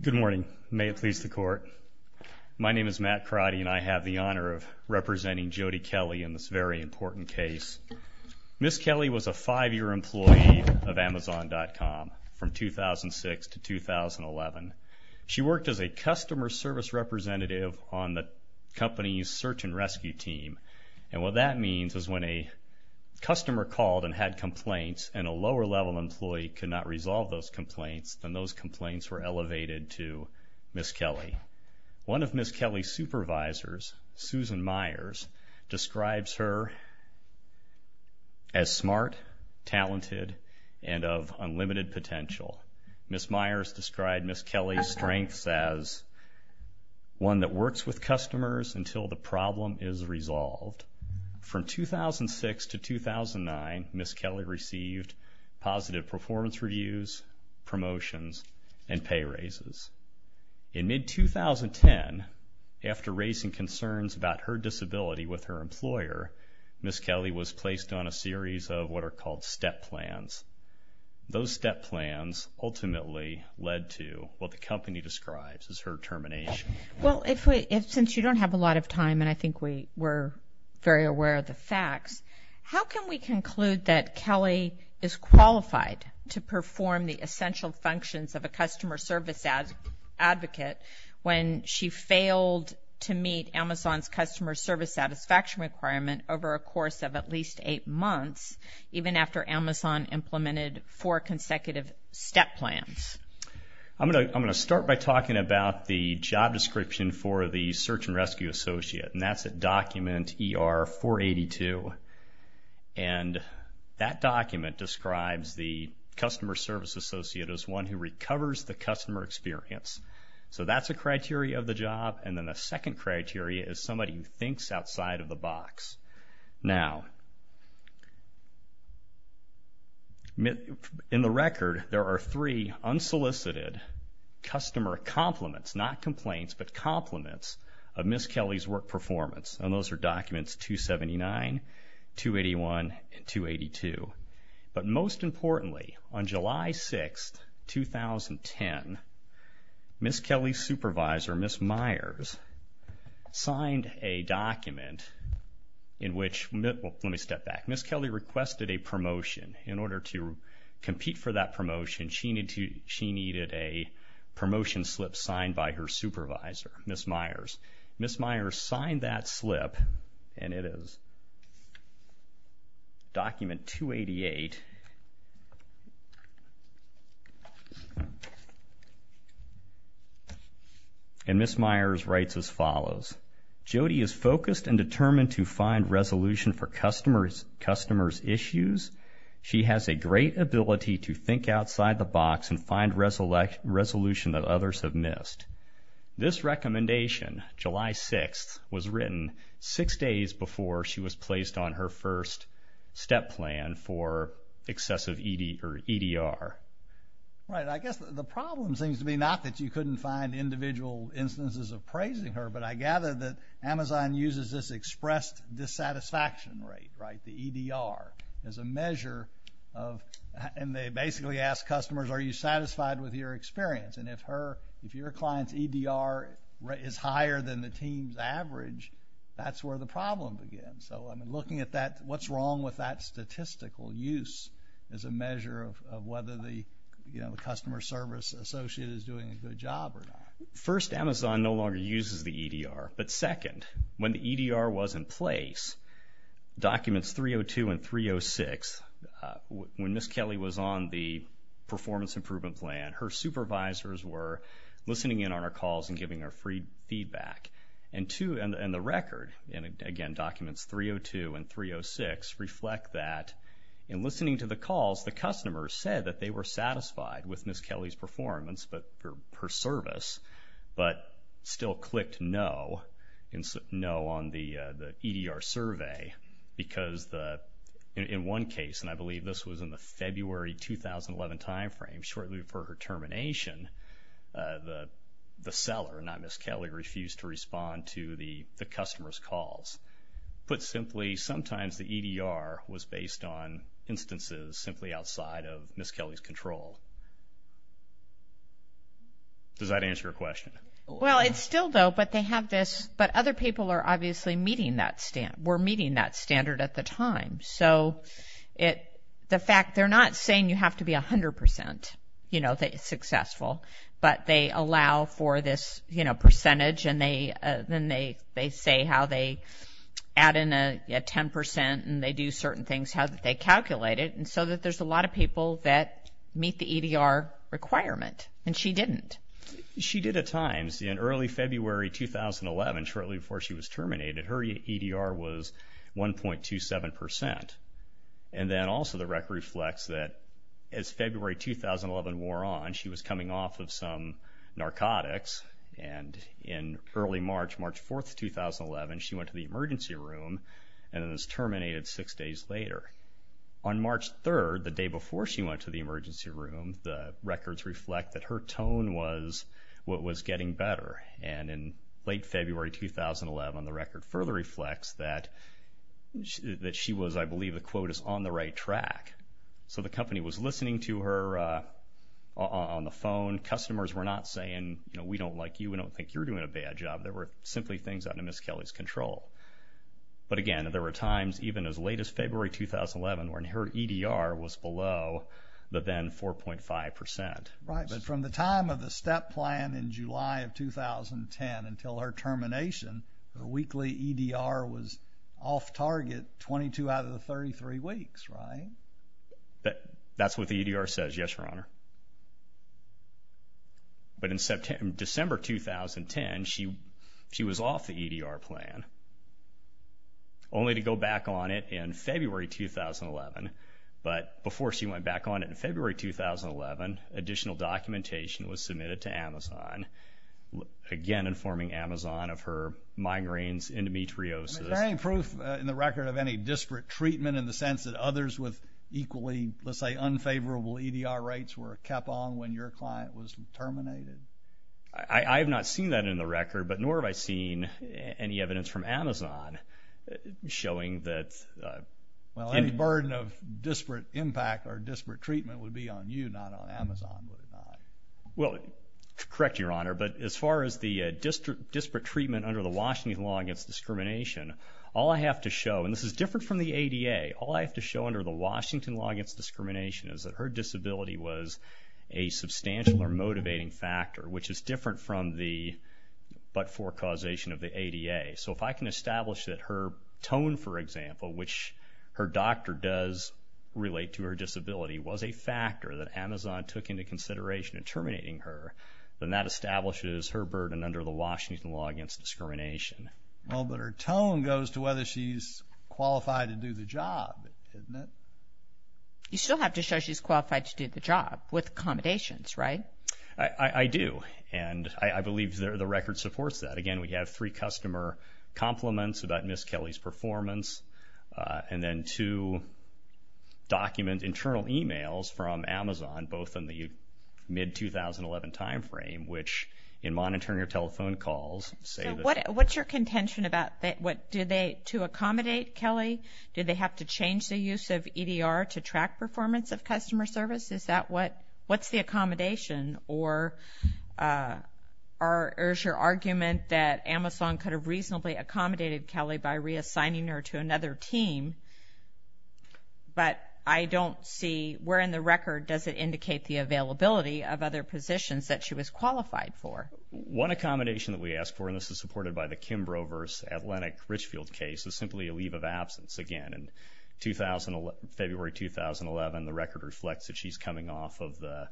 Good morning. May it please the court. My name is Matt Crotty and I have the honor of representing Jodie Kelley in this very important case. Ms. Kelley was a five-year employee of Amazon.com from 2006 to 2011. She worked as a customer service representative on the company's search and rescue team. And what that means is when a customer called and had complaints and a lower-level employee could not resolve those complaints, then those complaints were elevated to Ms. Kelley. One of Ms. Kelley's supervisors, Susan Myers, describes her as smart, talented, and of unlimited potential. Ms. Myers described Ms. Kelley's strengths as one that works with customers until the problem is resolved. From 2006 to 2009, Ms. Kelley received positive performance reviews, promotions, and pay raises. In mid-2010, after raising concerns about her disability with her employer, Ms. Kelley was placed on a series of what are called step plans. Those step plans ultimately led to what the company describes as her termination. Well, since you don't have a lot of time, and I think we're very aware of the facts, how can we conclude that Kelley is qualified to perform the essential functions of a customer service advocate when she failed to meet Amazon's customer service satisfaction requirement over a course of at least eight months, even after Amazon implemented four consecutive step plans? I'm going to start by talking about the job description for the search and rescue associate, and that's at document ER-482. And that document describes the customer service associate as one who recovers the customer experience. So that's a criteria of the job. And then the second criteria is somebody who thinks outside of the box. Now, in the record, there are three unsolicited customer compliments, not complaints, but performance. And those are documents 279, 281, and 282. But most importantly, on July 6th, 2010, Ms. Kelley's supervisor, Ms. Myers, signed a document in which, let me step back, Ms. Kelley requested a promotion. In order to compete for that promotion, she needed a promotion slip signed by her supervisor, Ms. Myers. Ms. Myers signed that slip, and it is document 288. And Ms. Myers writes as follows, Jodi is focused and determined to find resolution for customers' issues. She has a great ability to think outside the box and find resolution that others have missed. This recommendation, July 6th, was written six days before she was placed on her first step plan for excessive EDR. Right. I guess the problem seems to be not that you couldn't find individual instances of praising her, but I gather that Amazon uses this expressed dissatisfaction rate, right, the EDR, as a measure of, and they basically ask customers, are you satisfied with your experience? And if your client's EDR is higher than the team's average, that's where the problem begins. So, I mean, looking at that, what's wrong with that statistical use as a measure of whether the customer service associate is doing a good job or not? First, Amazon no longer uses the EDR. But second, when the EDR was in place, documents 302 and 306, when Ms. Kelly was on the performance improvement plan, her supervisors were listening in on our calls and giving her free feedback. And two, and the record, and again, documents 302 and 306 reflect that in listening to the calls, the customers said that they were satisfied with Ms. Kelly's performance, but her service, but still clicked no, no on the EDR survey, because in one case, and I believe this was in the February 2011 timeframe, shortly before her termination, the seller, not Ms. Kelly, refused to respond to the customer's calls. Put simply, sometimes the EDR was based on instances simply outside of Ms. Kelly's control. Does that answer your question? Well, it still does, but they have this, but other people are obviously meeting that, were meeting that standard at the time. So, the fact, they're not saying you have to be 100%, you know, successful, but they allow for this, you know, percentage, and then they say how they add in a 10% and they do certain things, how they calculate it, and so that there's a lot of people that meet the EDR requirement, and she didn't. She did at times, in early February 2011, shortly before she was terminated, her EDR was 1.27%. And then also the record reflects that as February 2011 wore on, she was coming off of some narcotics, and in early March, March 4th, 2011, she went to the emergency room, and then was terminated six days later. On March 3rd, the day before she went to the emergency room, the records reflect that her tone was what was getting better. And in late February 2011, the record further reflects that she was, I believe the quote is, on the right track. So, the company was listening to her on the phone. Customers were not saying, you know, we don't like you, we don't think you're doing a bad job. There were simply things under Ms. Kelly's control. But again, there were times, even as late as February 2011, when her EDR was below the then 4.5%. Right, but from the time of the step plan in July of 2010 until her termination, her EDR was below 4.5%. That's what the EDR says, yes, Your Honor. But in December 2010, she was off the EDR plan, only to go back on it in February 2011. But before she went back on it in February 2011, additional documentation was submitted to Amazon, again informing Amazon of her migraines, endometriosis. Is there any proof in the record of any disparate treatment in the sense that others with equally, let's say, unfavorable EDR rates were kept on when your client was terminated? I have not seen that in the record, but nor have I seen any evidence from Amazon showing that... Well, any burden of disparate impact or disparate treatment would be on you, not on Amazon, would it not? Well, correct, Your Honor. But as far as the disparate treatment under the Washington law against discrimination, all I have to show, and this is different from the ADA, all I have to show under the Washington law against discrimination is that her disability was a substantial or motivating factor, which is different from the but-for causation of the ADA. So if I can establish that her tone, for example, which her doctor does relate to her disability, was a factor that Amazon took into consideration in terminating her, then that establishes her burden under the Washington law against discrimination. Well, but her tone goes to whether she's qualified to do the job, doesn't it? You still have to show she's qualified to do the job with accommodations, right? I do, and I believe the record supports that. Again, we have three customer compliments about Ms. Kelly's performance, and then two document internal emails from Amazon, both in the mid-2011 time frame, which, in monitoring her telephone calls, say that... What's your contention about that? Do they, to accommodate Kelly, do they have to change the use of EDR to track performance of customer service? Is that what, what's the accommodation? Or is your argument that Amazon could have reasonably accommodated Kelly by reassigning her to another team, but I don't see, where in the record does it indicate the availability of other positions that she was qualified for? One accommodation that we ask for, and this is supported by the Kim Brovers Atlantic Richfield case, is simply a leave of absence. Again, in February 2011, the record reflects that she's coming off of the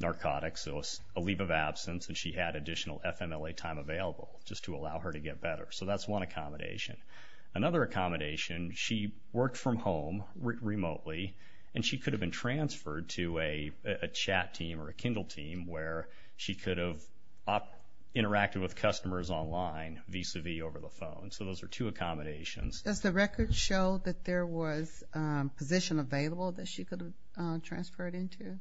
narcotics, so a leave of absence, and she had additional FMLA time available just to allow her to get better. So that's one accommodation. Another accommodation, she worked from home, remotely, and she could have been transferred to a chat team or a Kindle team where she could have interacted with customers online vis-a-vis over the phone. So those are two accommodations. Does the record show that there was a position available that she could have transferred into?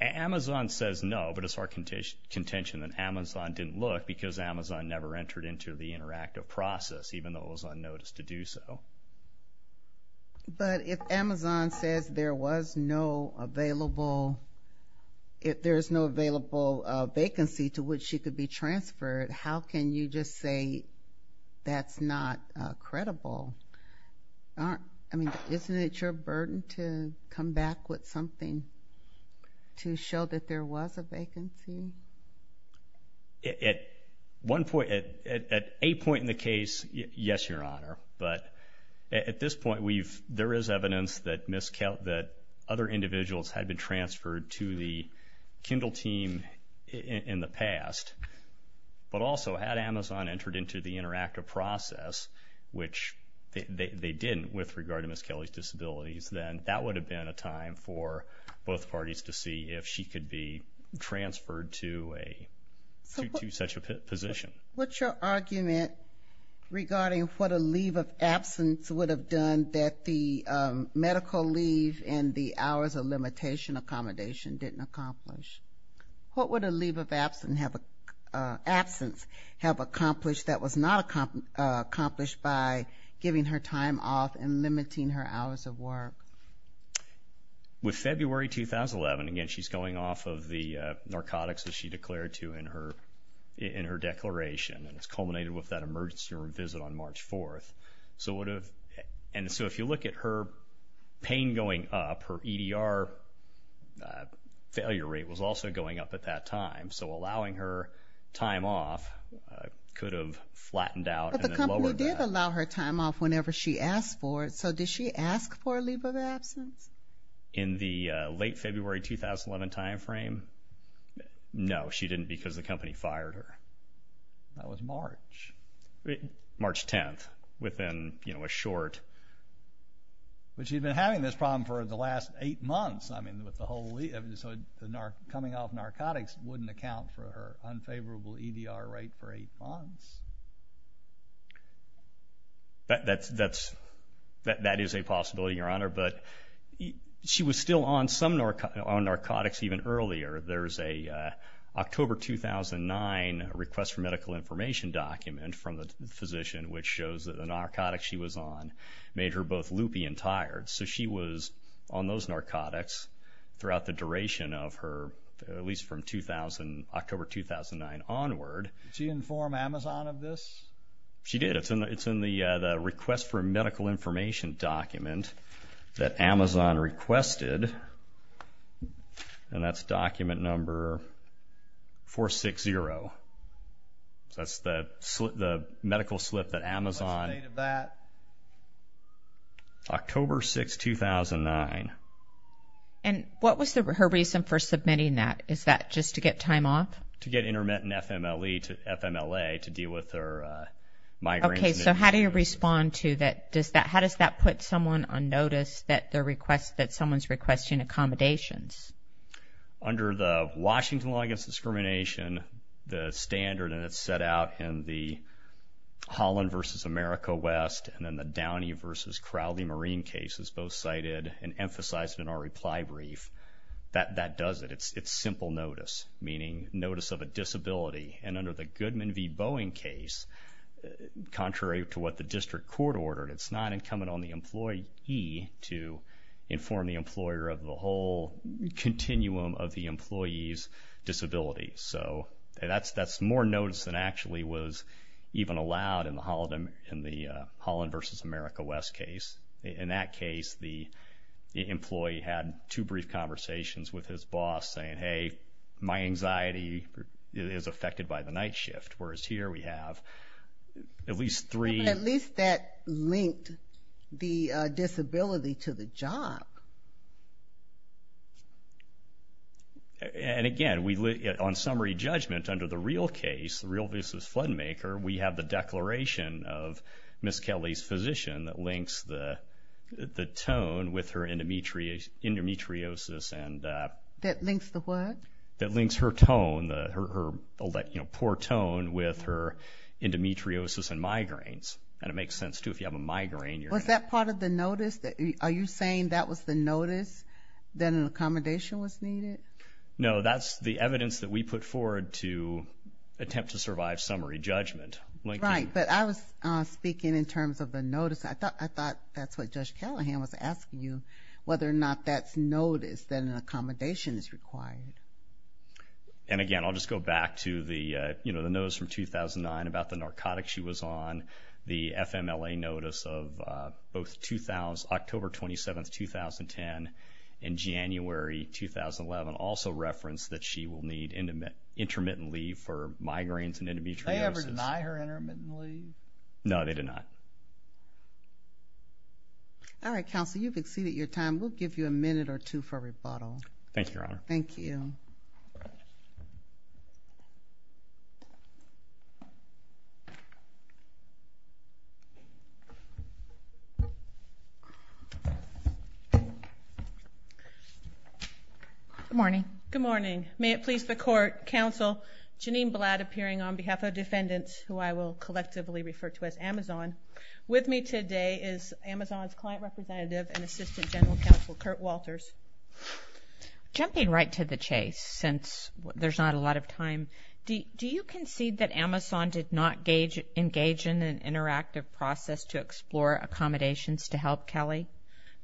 Amazon says no, but it's our contention that Amazon didn't look because Amazon never entered into the interactive process, even though it was unnoticed to do so. But if Amazon says there was no available, if there's no available vacancy to which she could be transferred, how can you just say that's not credible? I mean, isn't it your burden to come back with something to show that there was a vacancy? At a point in the case, yes, Your Honor. But at this point, there is evidence that other individuals had been transferred to the Kindle team in the past. But also, had Amazon entered into the interactive process, which they didn't with regard to Ms. Kelly's disabilities, then that would have been a time for both parties to see if she could be transferred to such a position. What's your argument regarding what a leave of absence would have done that the medical leave and the hours of limitation accommodation didn't accomplish? What would a leave of absence have accomplished that was not accomplished by giving her time off and limiting her hours of work? With February 2011, again, she's going off of the narcotics that she declared to in her declaration, and it's culminated with that emergency room visit on March 4th. And so if you look at her pain going up, her EDR failure rate was also going up at that time. So allowing her time off could have flattened out and then lowered that. But she could have allowed her time off whenever she asked for it. So did she ask for a leave of absence? In the late February 2011 time frame, no. She didn't because the company fired her. That was March. March 10th, within a short. But she'd been having this problem for the last eight months. I mean, with the whole leave. So coming off narcotics wouldn't account for her unfavorable EDR rate for eight months. That is a possibility, Your Honor. But she was still on some narcotics even earlier. There's a October 2009 request for medical information document from the physician which shows that the narcotics she was on made her both loopy and tired. So she was on those narcotics throughout the duration of her, at least from October 2009 onward. Did she inform Amazon of this? She did. It's in the request for medical information document that Amazon requested. And that's document number 460. That's the medical slip that Amazon... What's the date of that? October 6, 2009. And what was her reason for submitting that? Is that just to get time off? To get intermittent FMLE to FMLA to deal with her migraine. Okay. So how do you respond to that? How does that put someone on notice that someone's requesting accommodations? Under the Washington Law Against Discrimination, the standard and it's set out in the Holland v. America West and then the Downey v. Crowley Marine cases, both cited and emphasized in our reply brief, that does it. It's simple notice, meaning notice of a disability. And under the Goodman v. Boeing case, contrary to what the district court ordered, it's not incumbent on the employee to inform the employer of the whole continuum of the employee's disability. So that's more notice than actually was even allowed in the Holland v. America West case. In that case, the employee had two brief conversations with his boss saying, hey, my anxiety is affected by the night shift, whereas here we have at least three... But at least that linked the disability to the job. And again, on summary judgment under the real case, the real business fund maker, we have the declaration of Ms. Kelly's physician that links the tone with her endometriosis and... That links the what? That links her tone, her poor tone with her endometriosis and migraines. And it makes sense too, if you have a migraine, you're... Was that part of the notice? Are you saying that was the notice that an accommodation was needed? No, that's the evidence that we put forward to attempt to survive summary judgment. Right, but I was speaking in terms of the notice. I thought that's what Judge Callahan was asking you, whether or not that's notice that an accommodation is required. And again, I'll just go back to the notice from 2009 about the narcotics she was on, the FMLA notice of both October 27th, 2010 and January 2011. Also referenced that she will need intermittent leave for migraines and endometriosis. Did they ever deny her intermittent leave? No, they did not. All right, counsel, you've exceeded your time. We'll give you a minute or two for rebuttal. Thank you, Your Honor. Thank you. Good morning. Good morning. May it please the court, counsel, Janine Blatt appearing on behalf of defendants, who I will collectively refer to as Amazon. With me today is Amazon's client representative and assistant general counsel, Kurt Walters. Jumping right to the chase, since there's not a lot of time, do you concede that Amazon did not engage in an interactive process to explore accommodations to help Kelly?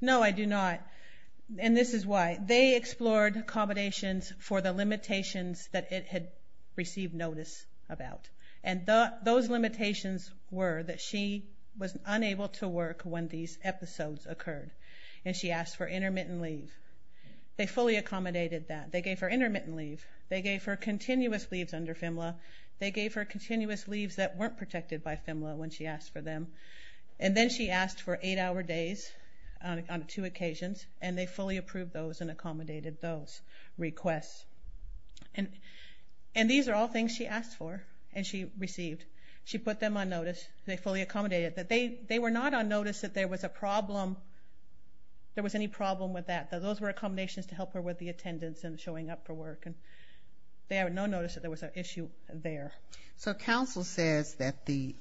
No, I do not. And this is why. They explored accommodations for the limitations that it had received notice about. And those limitations were that she was unable to work when these episodes occurred. And she asked for intermittent leave. They fully accommodated that. They gave her intermittent leave. They gave her continuous leaves under FMLA. They gave her continuous leaves that weren't protected by FMLA when she asked for them. And then she asked for eight-hour days on two occasions. And they fully approved those and accommodated those requests. And these are all things she asked for and she received. She put them on notice. They fully accommodated. They were not on notice that there was a problem, there was any problem with that. Those were accommodations to help her with the attendance and showing up for work. They had no notice that there was an issue there. So counsel says that the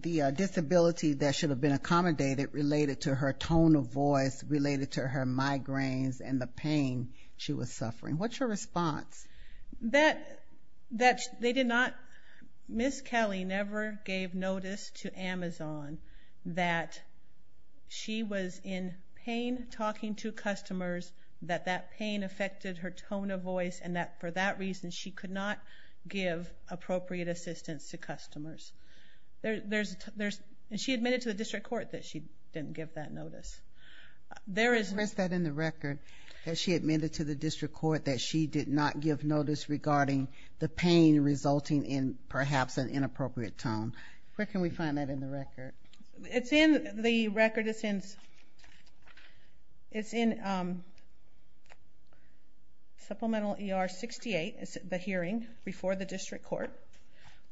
disability that should have been accommodated related to her tone of voice, related to her migraines and the pain she was suffering. What's your response? That they did not... Ms. Kelly never gave notice to Amazon that she was in pain talking to customers, that that pain affected her tone of voice, and that for that reason she could not give appropriate assistance to customers. There's... And she admitted to the district court that she didn't give that notice. There is... She admitted to the district court that she did not give notice regarding the pain resulting in perhaps an inappropriate tone. Where can we find that in the record? It's in the record. It's in... It's in Supplemental ER 68, the hearing before the district court,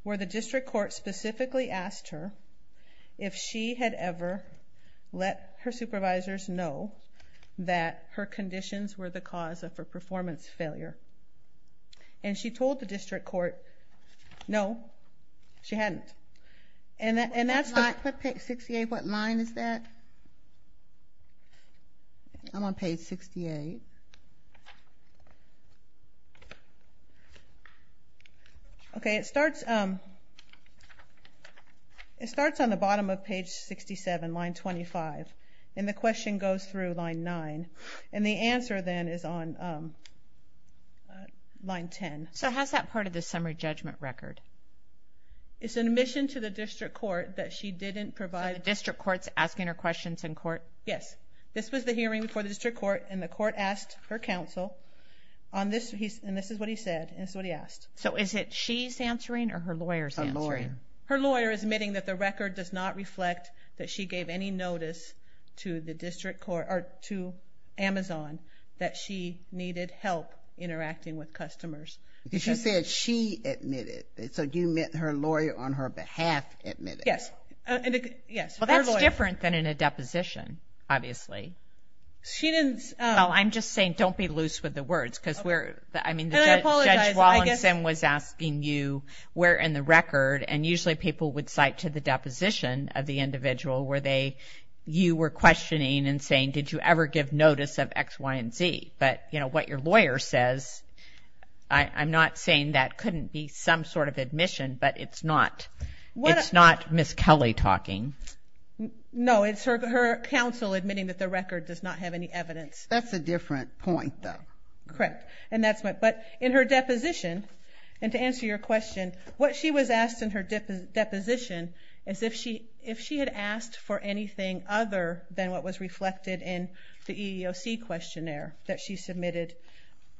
where the district court specifically asked her if she had ever let her supervisors know that her conditions were the cause of her performance failure. And she told the district court, no, she hadn't. And that's the... 68, what line is that? I'm on page 68. Okay, it starts... It starts on the bottom of page 67, line 25, and the question goes through line 9. And the answer then is on line 10. So how's that part of the summary judgment record? It's an admission to the district court that she didn't provide... The district court's asking her questions in court? Yes. This was the hearing before the district court, and the court asked her counsel on this... And this is what he said, and this is what he asked. So is it she's answering or her lawyer's answering? Her lawyer. Her lawyer is admitting that the record does not reflect that she gave any notice to the district court, or to Amazon, that she needed help interacting with customers. She said she admitted. So you meant her lawyer on her behalf admitted? Yes. Well, that's different than in a deposition, obviously. She didn't... Well, I'm just saying don't be loose with the words, because we're... And I apologize, I guess... I mean, Judge Wallinson was asking you where in the record, and usually people would cite to the deposition of the individual where you were questioning and saying, did you ever give notice of X, Y, and Z? But, you know, what your lawyer says, I'm not saying that couldn't be some sort of admission, but it's not Miss Kelly talking. No, it's her counsel admitting that the record does not have any evidence. That's a different point, though. Correct. But in her deposition, and to answer your question, what she was asked in her deposition is if she had asked for anything other than what was reflected in the EEOC questionnaire that she submitted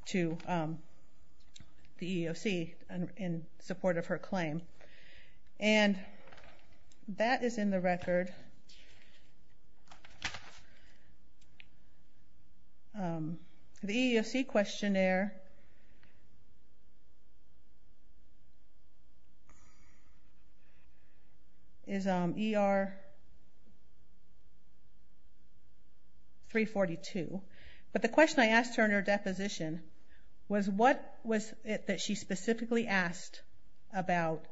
to the EEOC in support of her claim. And that is in the record. The EEOC questionnaire is ER 342. But the question I asked her in her deposition was what was it that she specifically asked about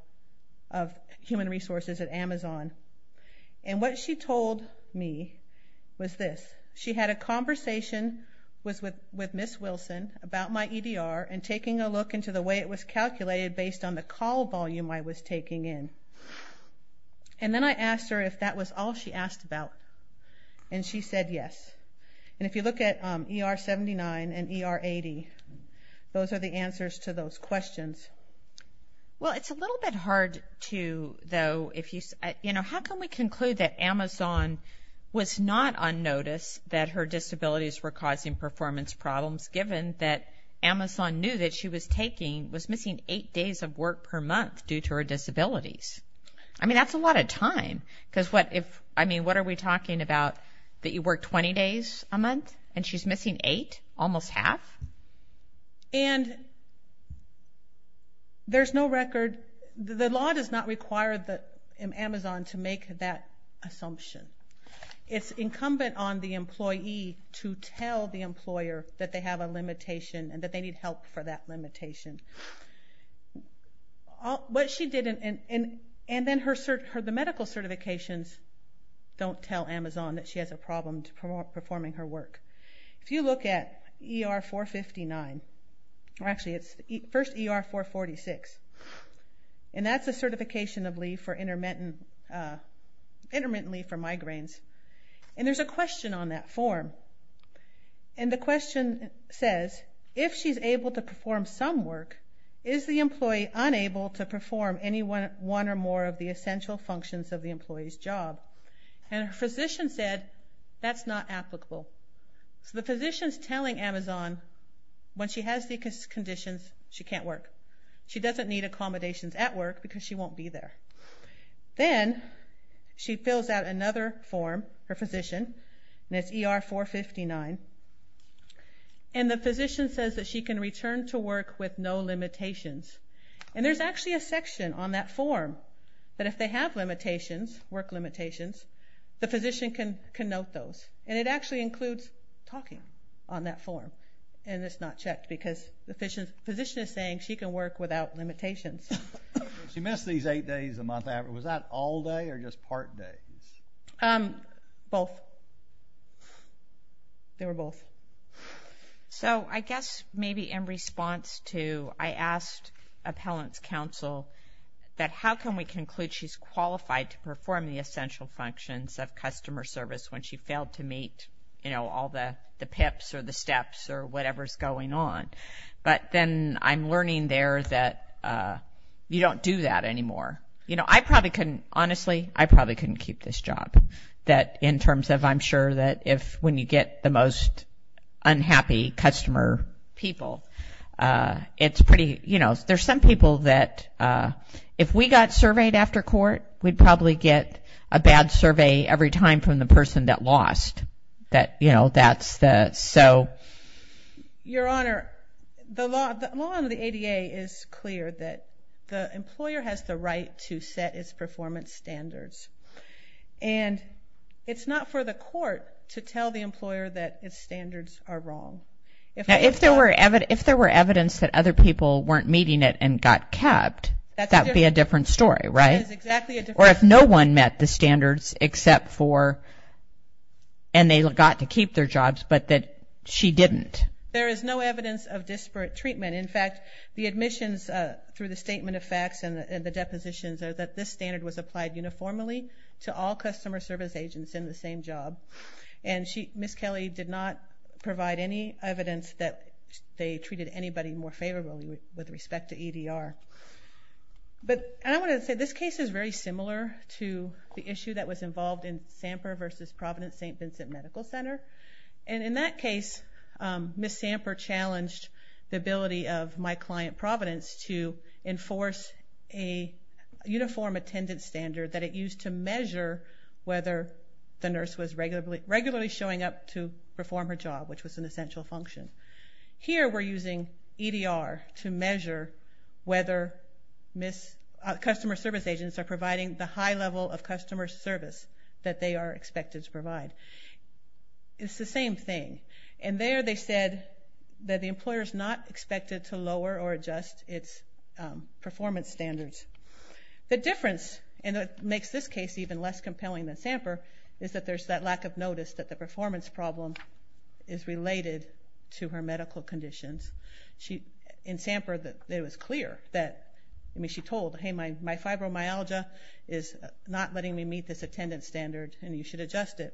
of human resources at Amazon. And what she told me was this. She had a conversation with Miss Wilson about my EDR and taking a look into the way it was calculated based on the call volume I was taking in. And then I asked her if that was all she asked about, and she said yes. And if you look at ER 79 and ER 80, those are the answers to those questions. Well, it's a little bit hard to, though, if you say, you know, how can we conclude that Amazon was not on notice that her disabilities were causing performance problems given that Amazon knew that she was taking, was missing eight days of work per month due to her disabilities? I mean, that's a lot of time. Because what if, I mean, what are we talking about, that you work 20 days a month and she's missing eight? Almost half? And there's no record. The law does not require Amazon to make that assumption. It's incumbent on the employee to tell the employer and that they need help for that limitation. What she did, and then the medical certifications don't tell Amazon that she has a problem performing her work. If you look at ER 459, or actually it's first ER 446, and that's a certification of leave for intermittent leave for migraines, and there's a question on that form. And the question says, if she's able to perform some work, is the employee unable to perform any one or more of the essential functions of the employee's job? And her physician said, that's not applicable. So the physician's telling Amazon when she has these conditions, she can't work. She doesn't need accommodations at work because she won't be there. Then she fills out another form, her physician, and it's ER 459. And the physician says that she can return to work with no limitations. And there's actually a section on that form that if they have limitations, work limitations, the physician can note those. And it actually includes talking on that form. And it's not checked because the physician is saying she can work without limitations. She missed these eight days a month. Was that all day or just part day? Both. They were both. So I guess maybe in response to, I asked appellant's counsel that how can we conclude she's qualified to perform the essential functions of customer service when she failed to meet all the PIPs or the steps or whatever's going on. But then I'm learning there that you don't do that anymore. I probably couldn't, honestly, I probably couldn't keep this job. That in terms of I'm sure that when you get the most unhappy customer people, it's pretty, you know, there's some people that if we got surveyed after court, we'd probably get a bad survey every time from the person that lost. That, you know, that's the, so. Your Honor, the law under the ADA is clear that the employer has the right to set its performance standards. And it's not for the court to tell the employer that its standards are wrong. If there were evidence that other people weren't meeting it and got capped, that would be a different story, right? Or if no one met the standards except for, and they got to keep their jobs, but that she didn't. There is no evidence of disparate treatment. In fact, the admissions through the statement of facts and the depositions are that this standard was applied uniformly to all customer service agents in the same job. And Ms. Kelly did not provide any evidence that they treated anybody more favorably with respect to EDR. But I want to say this case is very similar to the issue that was involved in Samper v. Providence St. Vincent Medical Center. And in that case, Ms. Samper challenged the ability of my client, Providence, to enforce a uniform attendance standard that it used to measure whether the nurse was regularly showing up to perform her job, which was an essential function. Here we're using EDR to measure whether customer service agents are providing the high level of customer service that they are expected to provide. It's the same thing. And there they said that the employer is not expected to lower or adjust its performance standards. The difference, and it makes this case even less compelling than Samper, is that there's that lack of notice that the performance problem is related to her medical conditions. In Samper, it was clear that she told, hey, my fibromyalgia is not letting me meet this attendance standard and you should adjust it.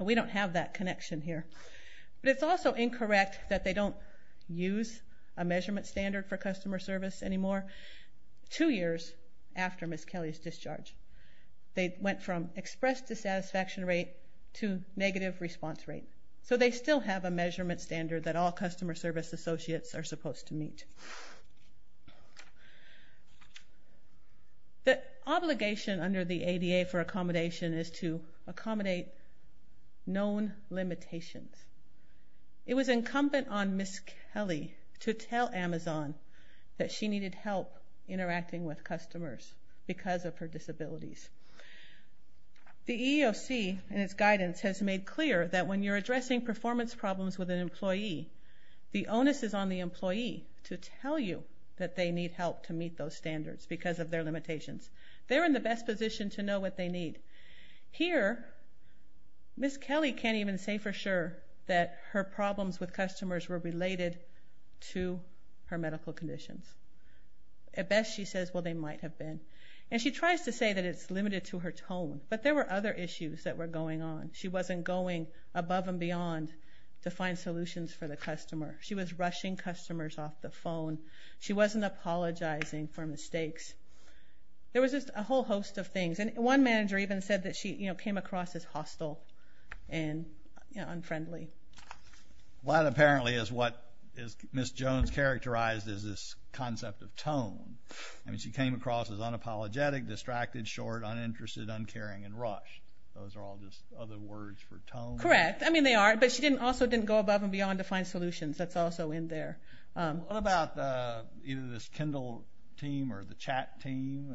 We don't have that connection here. But it's also incorrect that they don't use a measurement standard for customer service anymore. Two years after Ms. Kelly's discharge, they went from express dissatisfaction rate to negative response rate. So they still have a measurement standard that all customer service associates are supposed to meet. The obligation under the ADA for accommodation is to accommodate known limitations. It was incumbent on Ms. Kelly to tell Amazon that she needed help interacting with customers because of her disabilities. The EEOC and its guidance has made clear that when you're addressing performance problems with an employee, the onus is on the employee to tell you that they need help to meet those standards because of their limitations. They're in the best position to know what they need. Here, Ms. Kelly can't even say for sure that her problems with customers were related to her medical conditions. At best, she says, well, they might have been. And she tries to say that it's limited to her tone. But there were other issues that were going on. She wasn't going above and beyond to find solutions for the customer. She was rushing customers off the phone. She wasn't apologizing for mistakes. There was just a whole host of things. And one manager even said that she came across as hostile and unfriendly. Well, that apparently is what Ms. Jones characterized as this concept of tone. I mean, she came across as unapologetic, distracted, short, uninterested, uncaring, and rushed. Those are all just other words for tone. Correct. I mean, they are. But she also didn't go above and beyond to find solutions. That's also in there. What about either this Kindle team or the chat team?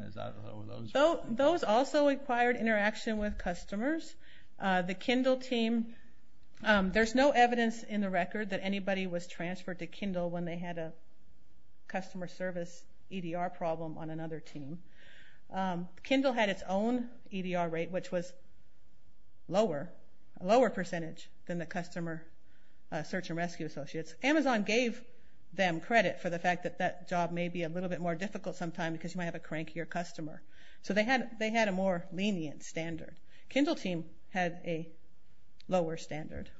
Those also required interaction with customers. The Kindle team, there's no evidence in the record that anybody was transferred to Kindle when they had a customer service EDR problem on another team. Kindle had its own EDR rate, which was lower, a lower percentage than the customer search and rescue associates. Amazon gave them credit for the fact that that job may be a little bit more difficult sometime because you might have a crankier customer. So they had a more lenient standard. Kindle team had a lower standard.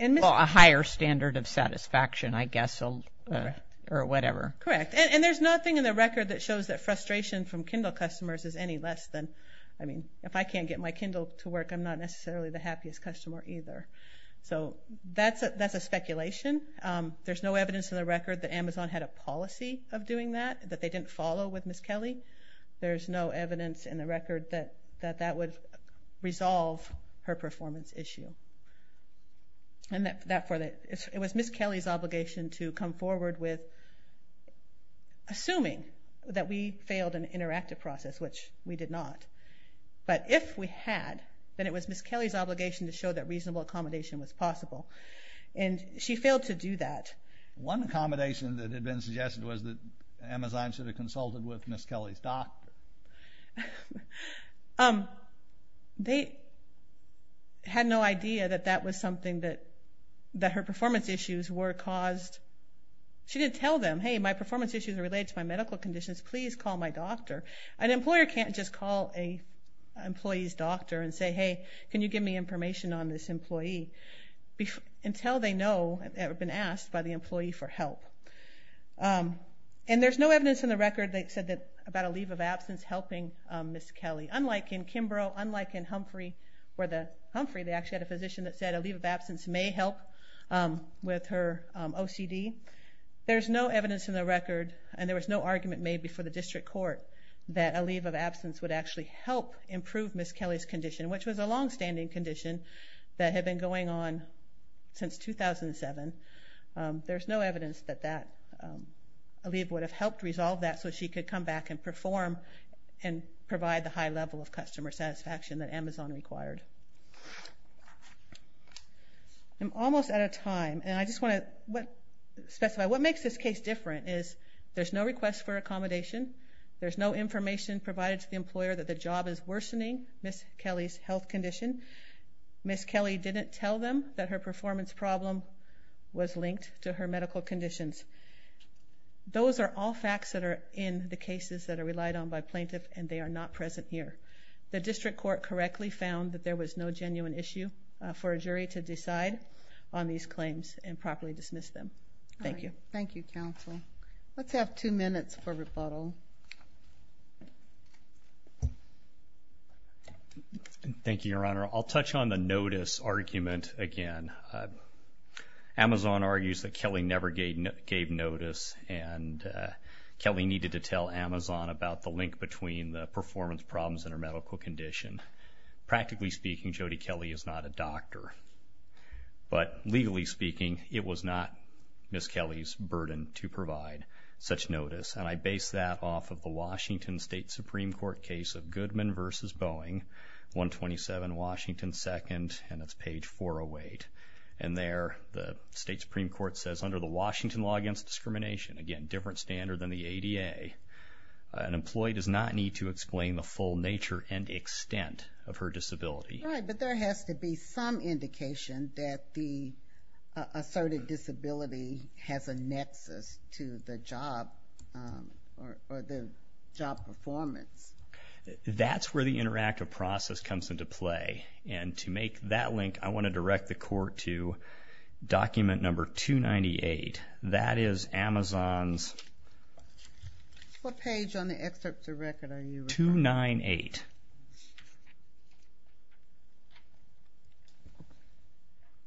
Well, a higher standard of satisfaction, I guess, or whatever. Correct. And there's nothing in the record that shows that frustration from Kindle customers is any less than, I mean, if I can't get my Kindle to work, I'm not necessarily the happiest customer either. So that's a speculation. There's no evidence in the record that Amazon had a policy of doing that, that they didn't follow with Ms. Kelly. There's no evidence in the record that that would resolve her performance issue. And therefore, it was Ms. Kelly's obligation to come forward with assuming that we failed an interactive process, which we did not. But if we had, then it was Ms. Kelly's obligation to show that reasonable accommodation was possible. And she failed to do that. One accommodation that had been suggested was that Amazon should have consulted with Ms. Kelly's doc. They had no idea that that was something that her performance issues were caused. She didn't tell them, hey, my performance issues are related to my medical conditions, please call my doctor. An employer can't just call an employee's doctor and say, hey, can you give me information on this employee, until they know or have been asked by the employee for help. And there's no evidence in the record, they said that about a leave of absence helping Ms. Kelly. Unlike in Kimbrough, unlike in Humphrey, where the, Humphrey they actually had a physician that said a leave of absence may help with her OCD. There's no evidence in the record, and there was no argument made before the district court, that a leave of absence would actually help improve Ms. Kelly's condition, which was a longstanding condition that had been going on since 2007. There's no evidence that that leave would have helped resolve that, so she could come back and perform and provide the high level of customer satisfaction that Amazon required. I'm almost out of time, and I just want to specify, what makes this case different is there's no request for accommodation. There's no information provided to the employer that the job is worsening Ms. Kelly's health condition. Ms. Kelly didn't tell them that her performance problem was linked to her medical conditions. Those are all facts that are in the cases that are relied on by plaintiff, and they are not present here. The district court correctly found that there was no genuine issue for a jury to decide on these claims and properly dismiss them. Thank you. Thank you, counsel. Let's have two minutes for rebuttal. Thank you, Your Honor. I'll touch on the notice argument again. Amazon argues that Kelly never gave notice, and Kelly needed to tell Amazon about the link between the performance problems and her medical condition. Practically speaking, Jody Kelly is not a doctor. But legally speaking, it was not Ms. Kelly's burden to provide such notice, and I base that off of the Washington State Supreme Court case of Goodman versus Boeing, 127 Washington 2nd, and it's page 408. And there the State Supreme Court says, under the Washington Law Against Discrimination, again, different standard than the ADA, an employee does not need to explain the full nature and extent of her disability. Right, but there has to be some indication that the asserted disability has a nexus to the job or the job performance. That's where the interactive process comes into play, and to make that link, I want to direct the court to document number 298. That is Amazon's... What page on the excerpt to record are you referring to? 298.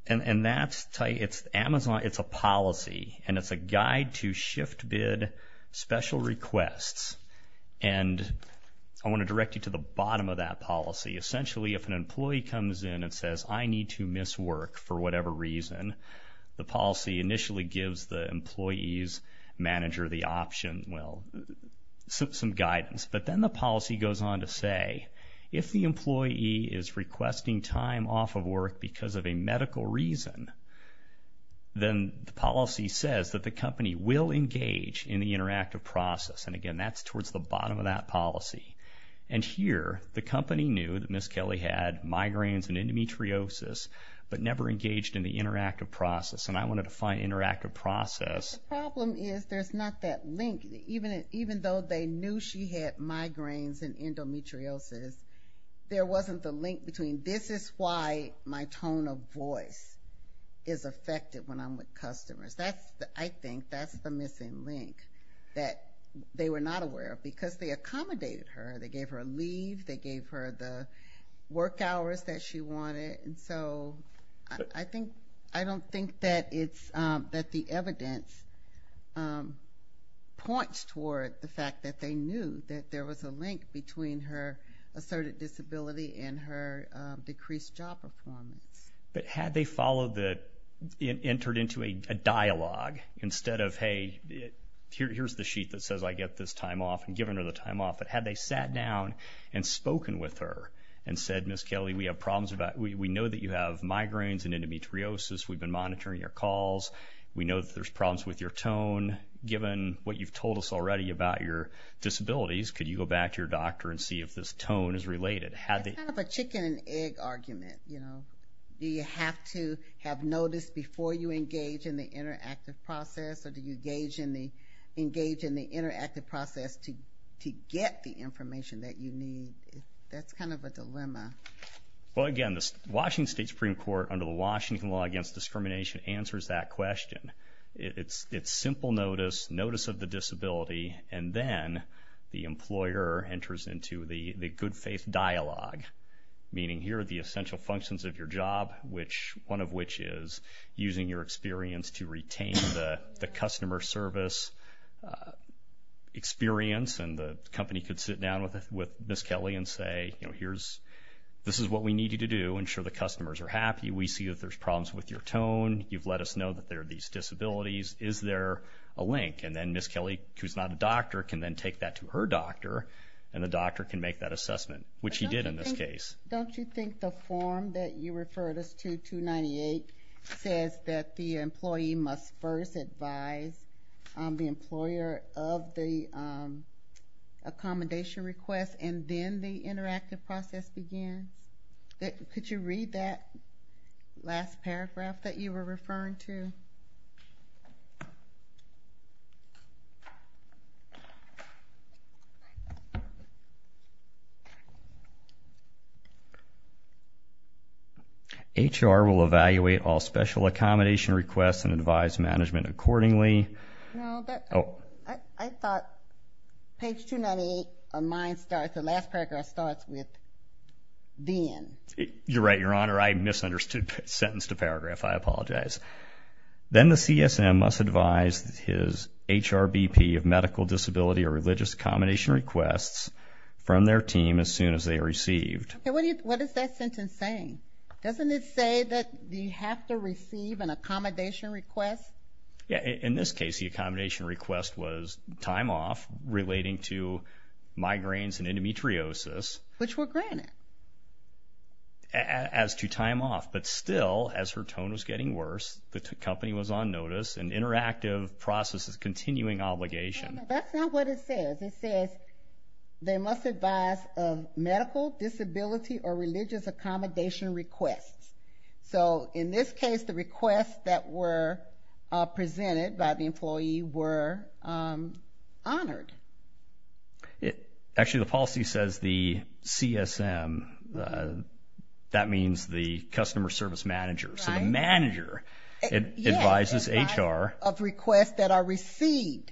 And that's, tell you, it's Amazon, it's a policy, and it's a guide to shift bid special requests. And I want to direct you to the bottom of that policy. Essentially, if an employee comes in and says, I need to miss work for whatever reason, the policy initially gives the employee's manager the option, well, some guidance. But then the policy goes on to say, if the employee is requesting time off of work because of a medical reason, then the policy says that the company will engage in the interactive process. And again, that's towards the bottom of that policy. And here, the company knew that Ms. Kelly had migraines and endometriosis, but never engaged in the interactive process. And I want to define interactive process. The problem is there's not that link. Even though they knew she had migraines and endometriosis, there wasn't the link between, this is why my tone of voice is affected when I'm with customers. I think that's the missing link that they were not aware of. Because they accommodated her. They gave her a leave. They gave her the work hours that she wanted. And so I don't think that the evidence points toward the fact that they knew that there was a link between her asserted disability and her decreased job performance. But had they entered into a dialogue instead of, hey, here's the sheet that says I get this time off, and given her the time off, but had they sat down and spoken with her and said, Ms. Kelly, we know that you have migraines and endometriosis. We've been monitoring your calls. We know that there's problems with your tone. Given what you've told us already about your disabilities, could you go back to your doctor and see if this tone is related? It's kind of a chicken and egg argument. Do you have to have notice before you engage in the interactive process, or do you engage in the interactive process to get the information that you need? That's kind of a dilemma. Well, again, the Washington State Supreme Court, under the Washington Law Against Discrimination, answers that question. It's simple notice, notice of the disability, and then the employer enters into the good faith dialogue, meaning here are the essential functions of your job, one of which is using your experience to retain the customer service experience. And the company could sit down with Ms. Kelly and say, you know, this is what we need you to do, ensure the customers are happy. We see that there's problems with your tone. You've let us know that there are these disabilities. Is there a link? And then Ms. Kelly, who's not a doctor, can then take that to her doctor, and the doctor can make that assessment, which he did in this case. Don't you think the form that you referred us to, 298, says that the employee must first advise the employer of the accommodation request and then the interactive process begins? Could you read that last paragraph that you were referring to? HR will evaluate all special accommodation requests and advise management accordingly. No, I thought page 298 of mine starts, the last paragraph starts with then. You're right, Your Honor. I misunderstood the sentence to paragraph. I apologize. Then the CSM must advise his HRBP of medical disability or religious accommodation requests from their team as soon as they are received. What is that sentence saying? Doesn't it say that you have to receive an accommodation request? Yes. In this case, the accommodation request was time off relating to migraines and endometriosis. Which were granted. As to time off, but still, as her tone was getting worse, the company was on notice and interactive processes continuing obligation. That's not what it says. It says they must advise of medical disability or religious accommodation requests. In this case, the requests that were presented by the employee were honored. Actually, the policy says the CSM, that means the customer service manager. The manager advises HR. Of requests that are received.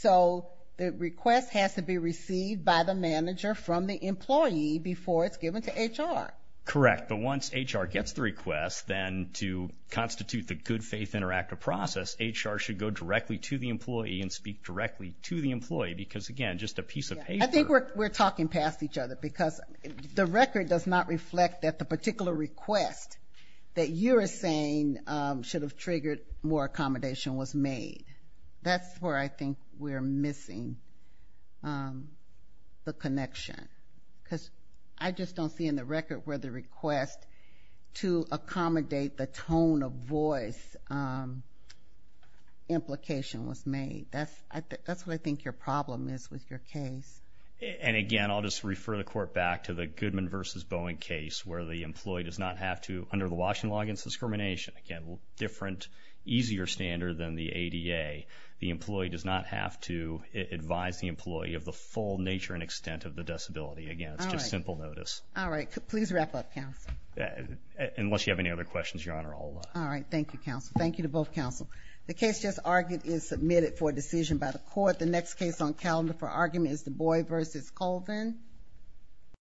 The request has to be received by the manager from the employee before it's given to HR. Correct. But once HR gets the request, then to constitute the good faith interactive process, HR should go directly to the employee and speak directly to the employee because, again, just a piece of paper. I think we're talking past each other because the record does not reflect that the particular request that you are saying should have triggered more accommodation was made. That's where I think we're missing the connection. Because I just don't see in the record where the request to accommodate the tone of voice implication was made. That's what I think your problem is with your case. And, again, I'll just refer the court back to the Goodman v. Boeing case where the employee does not have to, under the Washington Law Against Discrimination, again, a different, easier standard than the ADA, the employee does not have to advise the employee of the full nature and extent of the disability. Again, it's just simple notice. All right. Please wrap up, counsel. Unless you have any other questions, Your Honor, I'll... All right. Thank you, counsel. Thank you to both counsel. The case just argued is submitted for decision by the court. The next case on calendar for argument is the Boy v. Colvin.